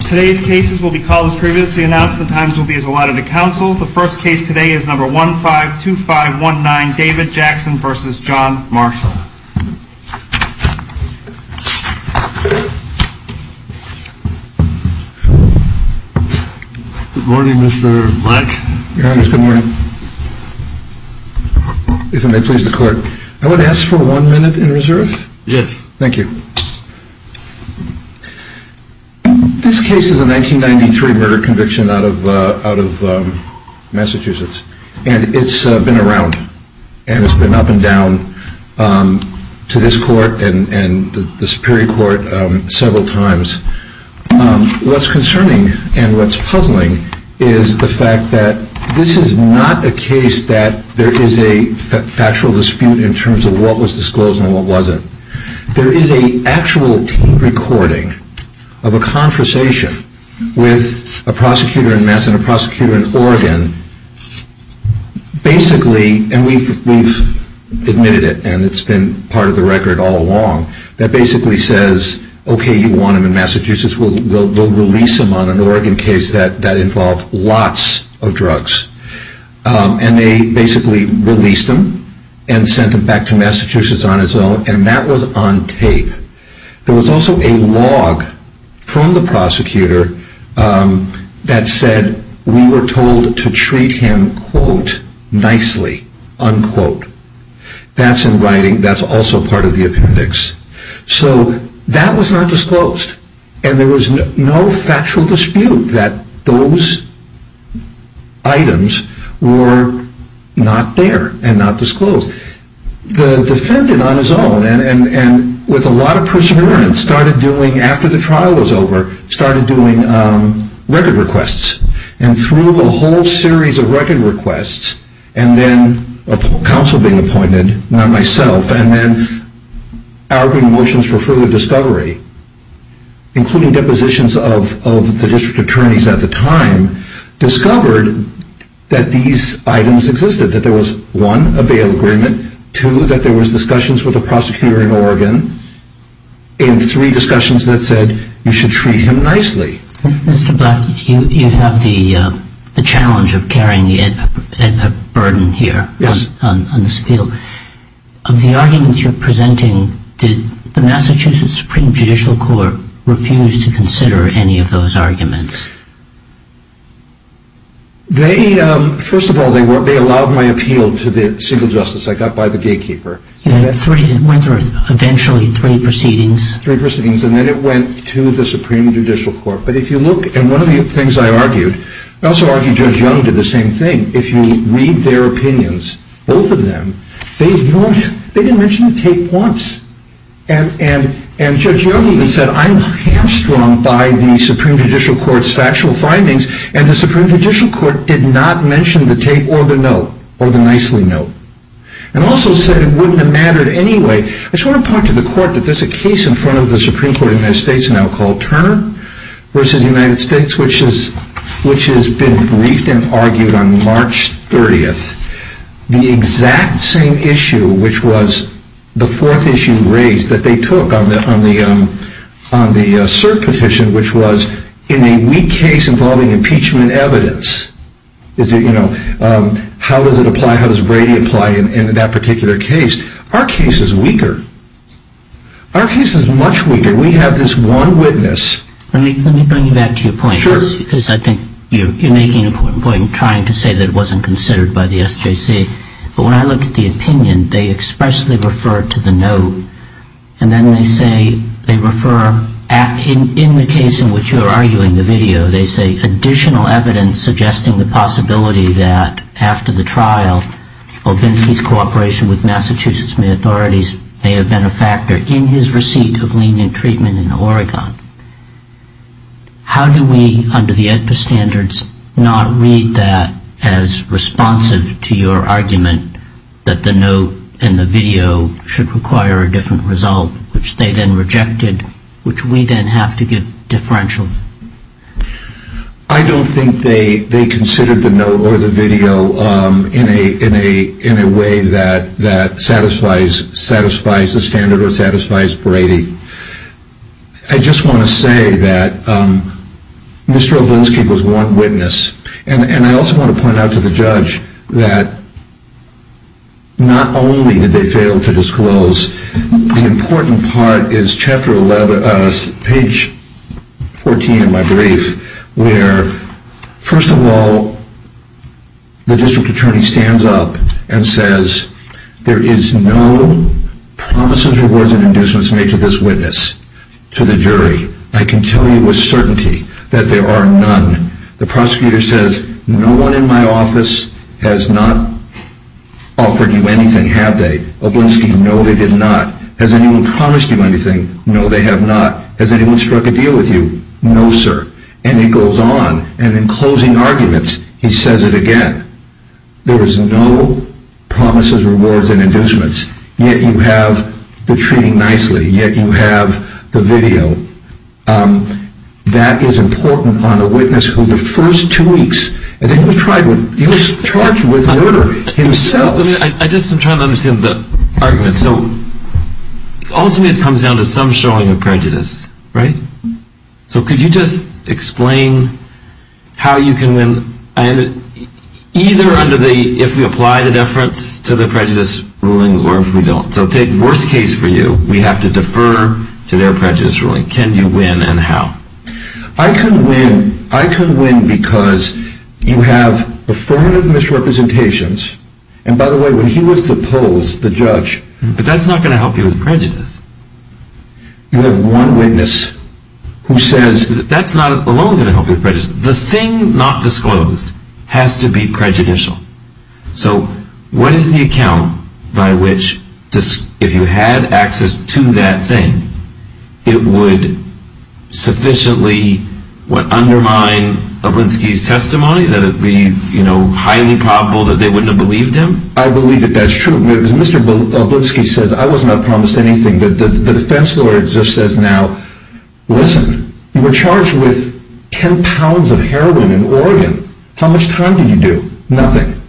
Today's cases will be called as previously announced. The times will be as allotted to counsel. The first case today is number 152519, David Jackson v. John Marshall. Good morning Mr. Blank. Good morning. If it may please the court, I would ask for one minute in reserve. Yes. Thank you. This case is a 1993 murder conviction out of Massachusetts. And it's been around. And it's been up and down to this court and the Superior Court several times. What's concerning and what's puzzling is the fact that this is not a case that there is a factual dispute in terms of what was disclosed and what wasn't. There is an actual tape recording of a conversation with a prosecutor in Mass and a prosecutor in Oregon. Basically, and we've admitted it and it's been part of the record all along, that basically says, okay, you want him in Massachusetts, we'll release him on an Oregon case that involved lots of drugs. And they basically released him and sent him back to Massachusetts on his own and that was on tape. There was also a log from the prosecutor that said we were told to treat him, quote, nicely, unquote. That's in writing. That's also part of the appendix. So that was not disclosed. And there was no factual dispute that those items were not there and not disclosed. The defendant on his own and with a lot of perseverance started doing, after the trial was over, started doing record requests. And through a whole series of record requests and then a counsel being appointed, not myself, and then arguing motions for further discovery, including depositions of the district attorneys at the time, discovered that these items existed. That there was, one, a bail agreement. Two, that there was discussions with a prosecutor in Oregon. And three, discussions that said you should treat him nicely. Mr. Black, you have the challenge of carrying a burden here on this appeal. Of the arguments you're presenting, did the Massachusetts Supreme Judicial Court refuse to consider any of those arguments? They, first of all, they allowed my appeal to the civil justice. I got by the gatekeeper. Eventually three proceedings. Three proceedings and then it went to the Supreme Judicial Court. But if you look, and one of the things I argued, I also argued Judge Young did the same thing. If you read their opinions, both of them, they didn't mention the tape once. And Judge Young even said, I'm hamstrung by the Supreme Judicial Court's factual findings and the Supreme Judicial Court did not mention the tape or the note, or the nicely note. And also said it wouldn't have mattered anyway. I just want to point to the court that there's a case in front of the Supreme Court in the United States now called Turner v. United States, which has been briefed and argued on March 30th. The exact same issue, which was the fourth issue raised that they took on the cert petition, which was in a weak case involving impeachment evidence. How does it apply? How does Brady apply in that particular case? Our case is weaker. Our case is much weaker. We have this one witness. Let me bring you back to your point. Sure. Because I think you're making an important point in trying to say that it wasn't considered by the SJC. But when I look at the opinion, they expressly refer to the note. And then they say, they refer, in the case in which you are arguing the video, they say additional evidence suggesting the possibility that after the trial, Obinke's cooperation with Massachusetts May authorities may have been a factor in his receipt of lenient treatment in Oregon. How do we, under the standards, not read that as responsive to your argument that the note and the video should require a different result, which they then rejected, which we then have to give differentials? I don't think they considered the note or the video in a way that satisfies the standard or satisfies Brady. I just want to say that Mr. Obinke was one witness. And I also want to point out to the judge that not only did they fail to disclose, the important part is chapter 11, page 14 in my brief, where first of all, the district attorney stands up and says, there is no promise of rewards and inducements made to this witness, to the jury. I can tell you with certainty that there are none. The prosecutor says, no one in my office has not offered you anything, have they? Obinke, no, they did not. Has anyone promised you anything? No, they have not. Has anyone struck a deal with you? No, sir. And it goes on. And in closing arguments, he says it again. There is no promise of rewards and inducements, yet you have the treating nicely, yet you have the video. That is important on a witness who the first two weeks, I think he was charged with murder himself. I'm just trying to understand the argument. So ultimately it comes down to some showing of prejudice, right? So could you just explain how you can win, either under the, if we apply the deference to the prejudice ruling or if we don't. So take worst case for you, we have to defer to their prejudice ruling. Can you win and how? I can win, I can win because you have affirmative misrepresentations. And by the way, when he was to pose, the judge. But that's not going to help you with prejudice. You have one witness who says. That's not alone going to help you with prejudice. The thing not disclosed has to be prejudicial. So what is the account by which, if you had access to that thing, it would sufficiently undermine Oblinski's testimony? That it would be highly probable that they wouldn't have believed him? I believe that that's true. As Mr. Oblinski says, I was not promised anything. The defense lawyer just says now, listen, you were charged with 10 pounds of heroin in Oregon. How much time did you do? Nothing.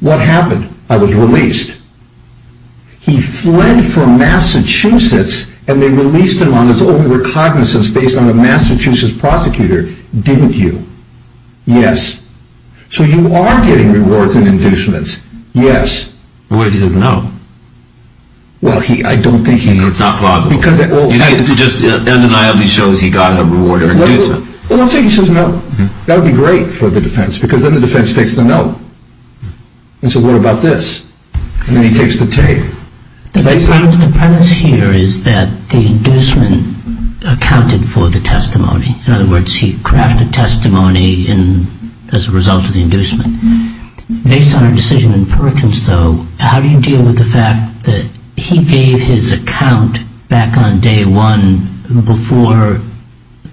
What happened? I was released. He fled from Massachusetts and they released him on his own recognizance based on a Massachusetts prosecutor. Didn't you? Yes. So you are getting rewards and inducements. Yes. What if he says no? Well, I don't think he... It's not plausible. You think it just undeniably shows he got a reward or inducement. Well, let's say he says no. That would be great for the defense because then the defense takes the no. And so what about this? And then he takes the take. The premise here is that the inducement accounted for the testimony. In other words, he crafted testimony as a result of the inducement. Based on our decision in Perkins, though, how do you deal with the fact that he gave his account back on day one before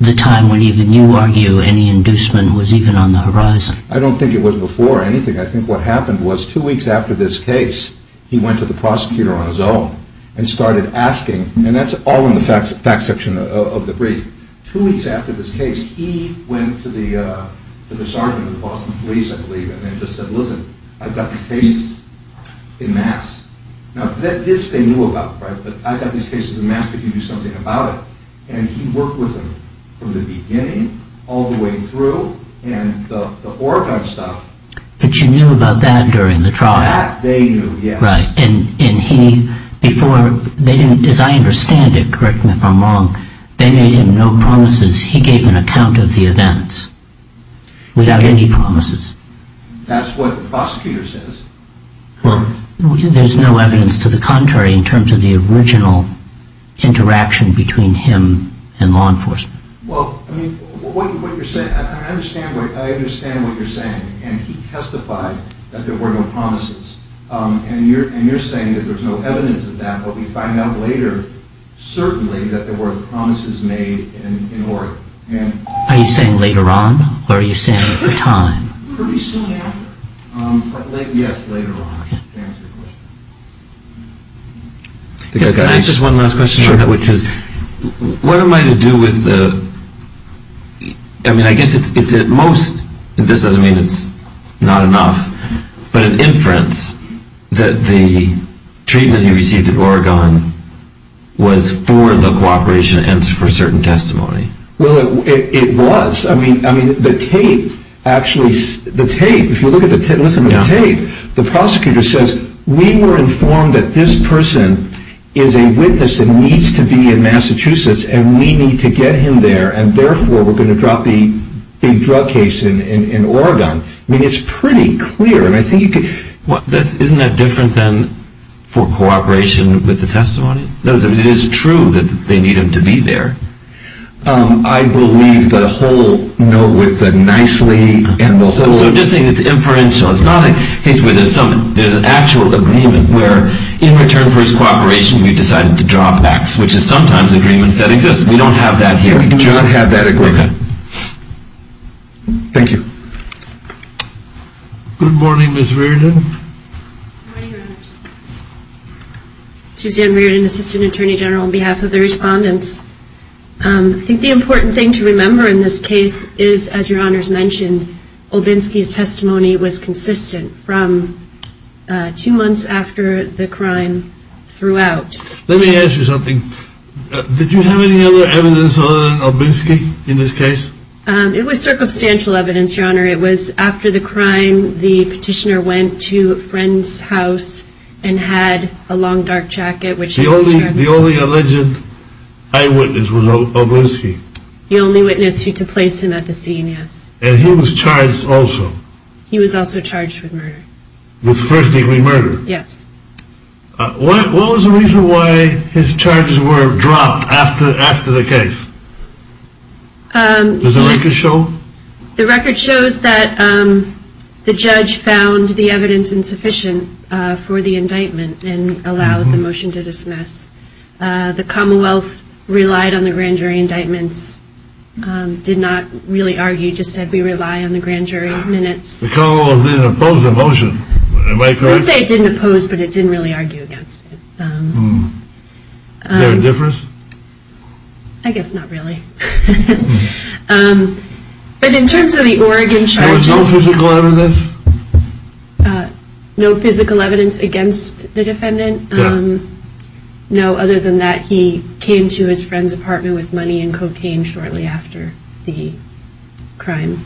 the time when even you argue any inducement was even on the horizon? I don't think it was before anything. I think what happened was two weeks after this case, he went to the prosecutor on his own and started asking. And that's all in the facts section of the brief. Two weeks after this case, he went to the sergeant of the Boston police, I believe, and then just said, listen, I've got these cases in mass. Now, this they knew about, right? But I've got these cases in mass. Could you do something about it? And he worked with them from the beginning all the way through. And the Oregon stuff... But you knew about that during the trial. That they knew, yes. Right. And he, before, they didn't, as I understand it, correct me if I'm wrong, they made him no promises. He gave an account of the events without any promises. That's what the prosecutor says. Well, there's no evidence to the contrary in terms of the original interaction between him and law enforcement. Well, I mean, what you're saying, I understand what you're saying. And he testified that there were no promises. And you're saying that there's no evidence of that. But we find out later, certainly, that there were promises made in Oregon. Are you saying later on? Or are you saying at the time? Pretty soon after. Yes, later on, to answer your question. Can I ask just one last question about that? Sure. What am I to do with the... I mean, I guess it's at most, and this doesn't mean it's not enough, but an inference that the treatment he received in Oregon was for the cooperation and for certain testimony. Well, it was. I mean, the tape, actually, the tape, if you look at the tape, listen to the tape, the prosecutor says, we were informed that this person is a witness and needs to be in Massachusetts, and we need to get him there, and therefore, we're going to drop the big drug case in Oregon. I mean, it's pretty clear, and I think you could... Isn't that different than for cooperation with the testimony? It is true that they need him to be there. I believe the whole note with the nicely and the whole... So you're just saying it's inferential. It's not a case where there's an actual agreement where in return for his cooperation, you decided to drop X, which is sometimes agreements that exist. We don't have that here. We do not have that agreement. Okay. Thank you. Good morning, Ms. Reardon. Good morning, Your Honors. Suzanne Reardon, Assistant Attorney General, on behalf of the respondents. I think the important thing to remember in this case is, as Your Honors mentioned, Olbinski's testimony was consistent from two months after the crime throughout. Let me ask you something. Did you have any other evidence on Olbinski in this case? It was circumstantial evidence, Your Honor. It was after the crime, the petitioner went to a friend's house and had a long, dark jacket. The only alleged eyewitness was Olbinski? The only witness to place him at the scene, yes. And he was charged also? He was also charged with murder. With first degree murder? Yes. What was the reason why his charges were dropped after the case? Does the record show? The record shows that the judge found the evidence insufficient for the indictment and allowed the motion to dismiss. The Commonwealth relied on the grand jury indictments, did not really argue, just said we rely on the grand jury minutes. The Commonwealth didn't oppose the motion, am I correct? I would say it didn't oppose, but it didn't really argue against it. Is there a difference? I guess not really. But in terms of the Oregon charges... There was no physical evidence? No physical evidence against the defendant. No other than that he came to his friend's apartment with money and cocaine shortly after the crime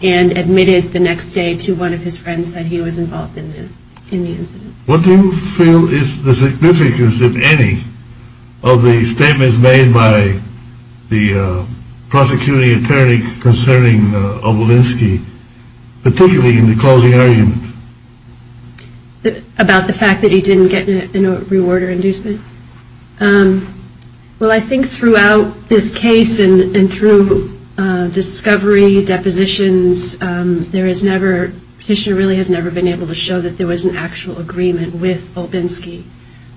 and admitted the next day to one of his friends that he was involved in the incident. What do you feel is the significance, if any, of the statements made by the prosecuting attorney concerning Olbinski, particularly in the closing argument? About the fact that he didn't get a reward or inducement? Well, I think throughout this case and through discovery, depositions, the petitioner really has never been able to show that there was an actual agreement with Olbinski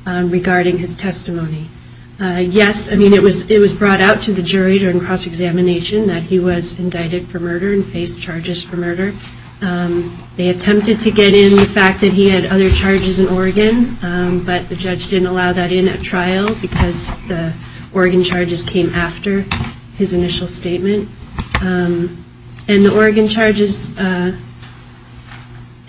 regarding his testimony. Yes, I mean, it was brought out to the jury during cross-examination that he was indicted for murder and faced charges for murder. They attempted to get in the fact that he had other charges in Oregon, but the judge didn't allow that in at trial because the Oregon charges came after his initial statement. And the Oregon charges,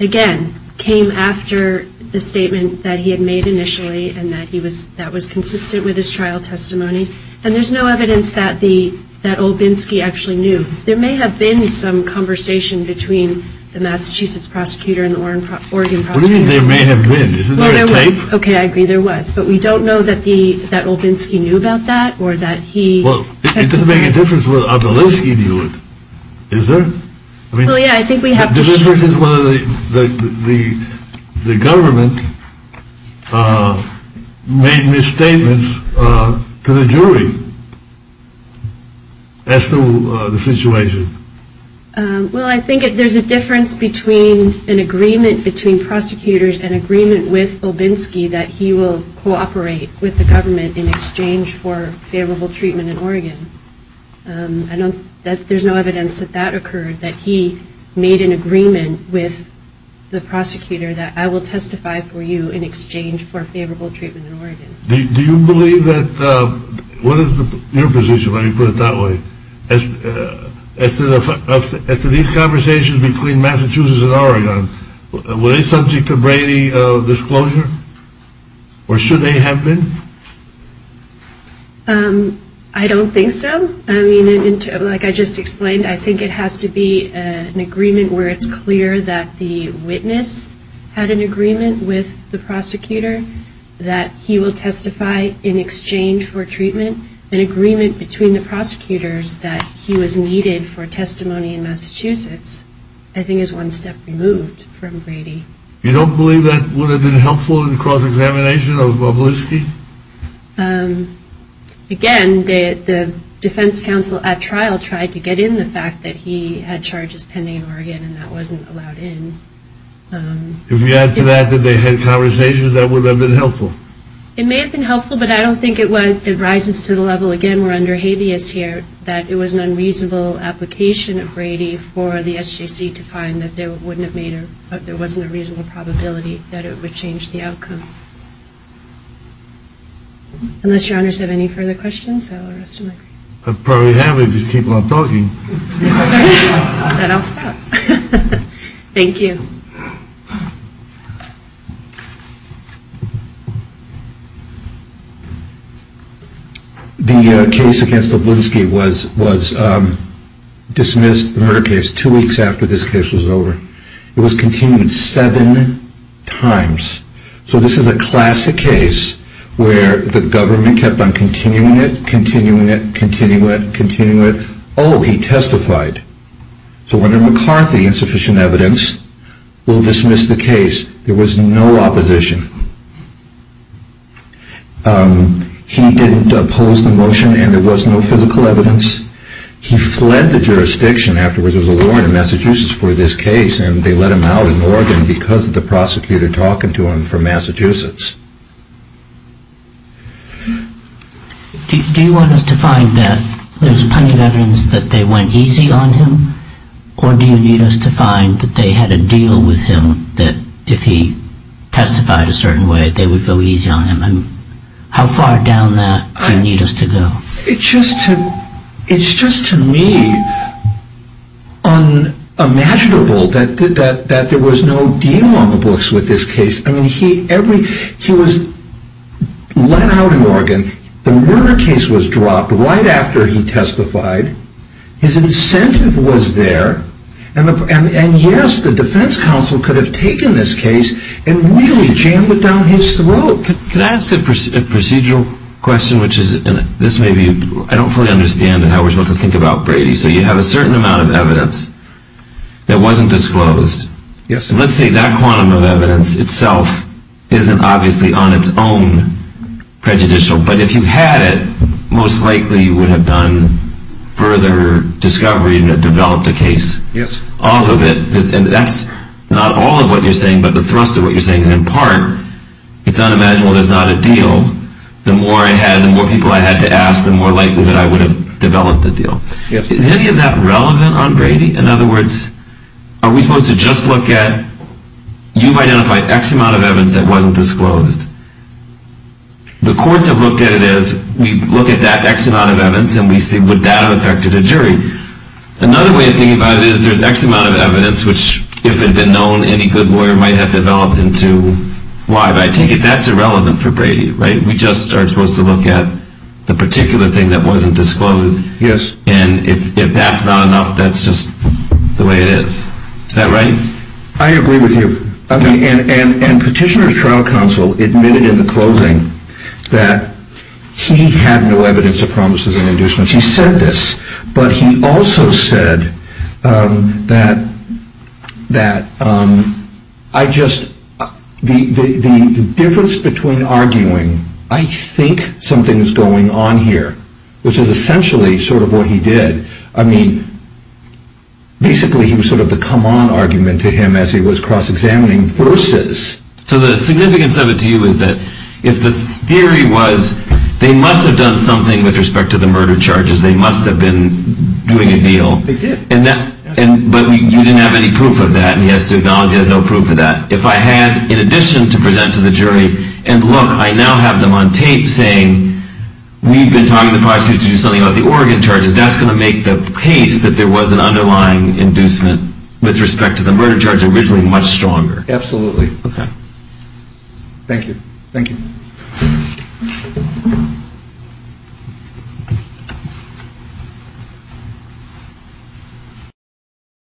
again, came after the statement that he had made initially and that was consistent with his trial testimony. And there's no evidence that Olbinski actually knew. There may have been some conversation between the Massachusetts prosecutor and the Oregon prosecutor. What do you mean there may have been? Isn't there a tape? Okay, I agree there was, but we don't know that Olbinski knew about that or that he testified. Well, it doesn't make a difference whether Olbinski knew it, does it? Well, yeah, I think we have to... The difference is whether the government made misstatements to the jury as to the situation. Well, I think there's a difference between an agreement between prosecutors and an agreement with Olbinski that he will cooperate with the government in exchange for favorable treatment in Oregon. There's no evidence that that occurred, that he made an agreement with the prosecutor that I will testify for you in exchange for favorable treatment in Oregon. Do you believe that... What is your position? Let me put it that way. As to these conversations between Massachusetts and Oregon, were they subject to Brady disclosure? Or should they have been? I don't think so. I mean, like I just explained, I think it has to be an agreement where it's clear that the witness had an agreement with the prosecutor that he will testify in exchange for treatment, and an agreement between the prosecutors that he was needed for testimony in Massachusetts I think is one step removed from Brady. You don't believe that would have been helpful in cross-examination of Olbinski? Again, the defense counsel at trial tried to get in the fact that he had charges pending in Oregon and that wasn't allowed in. If you add to that that they had conversations, that would have been helpful. It may have been helpful, but I don't think it was. It rises to the level, again, we're under habeas here, that it was an unreasonable application of Brady for the SJC to find that there wasn't a reasonable probability that it would change the outcome. Unless your honors have any further questions, I will rest the mic. I probably have if you keep on talking. Then I'll stop. Thank you. The case against Olbinski was dismissed, the murder case, two weeks after this case was over. It was continued seven times. So this is a classic case where the government kept on continuing it, continuing it, continuing it, continuing it. Oh, he testified. So Wendell McCarthy, insufficient evidence, will dismiss the case. There was no opposition. He didn't oppose the motion and there was no physical evidence. He fled the jurisdiction after there was a war in Massachusetts for this case and they let him out in Oregon because of the prosecutor talking to him from Massachusetts. Do you want us to find that there's plenty of evidence that they went easy on him or do you need us to find that they had a deal with him that if he testified a certain way, they would go easy on him? How far down that do you need us to go? It's just to me unimaginable that there was no deal on the books with this case. He was let out in Oregon. The murder case was dropped right after he testified. His incentive was there. And yes, the defense counsel could have taken this case and really jammed it down his throat. Can I ask a procedural question? I don't fully understand how we're supposed to think about Brady. So you have a certain amount of evidence that wasn't disclosed. Let's say that quantum of evidence itself isn't obviously on its own prejudicial, but if you had it, most likely you would have done further discovery and developed a case off of it. And that's not all of what you're saying, but the thrust of what you're saying is in part, it's unimaginable there's not a deal. The more people I had to ask, the more likely that I would have developed a deal. Is any of that relevant on Brady? In other words, are we supposed to just look at you've identified X amount of evidence that wasn't disclosed. The courts have looked at it as we look at that X amount of evidence and we see would that have affected a jury. Another way of thinking about it is there's X amount of evidence which, if it had been known, any good lawyer might have developed into Y. But I take it that's irrelevant for Brady, right? We just are supposed to look at the particular thing that wasn't disclosed. And if that's not enough, that's just the way it is. Is that right? I agree with you. And Petitioner's trial counsel admitted in the closing that he had no evidence of promises and inducements. He said this, but he also said that I just, the difference between arguing, I think something's going on here, which is essentially sort of what he did. I mean, basically he was sort of the come on argument to him as he was cross-examining versus. So the significance of it to you is that if the theory was they must have done something with respect to the murder charges, they must have been doing a deal. They did. But you didn't have any proof of that and he has to acknowledge he has no proof of that. If I had, in addition to present to the jury, and look, I now have them on tape saying we've been talking to prosecutors to do something about the Oregon charges, that's going to make the case that there was an underlying inducement with respect to the murder charge originally much stronger. Absolutely. Okay. Thank you. Thank you.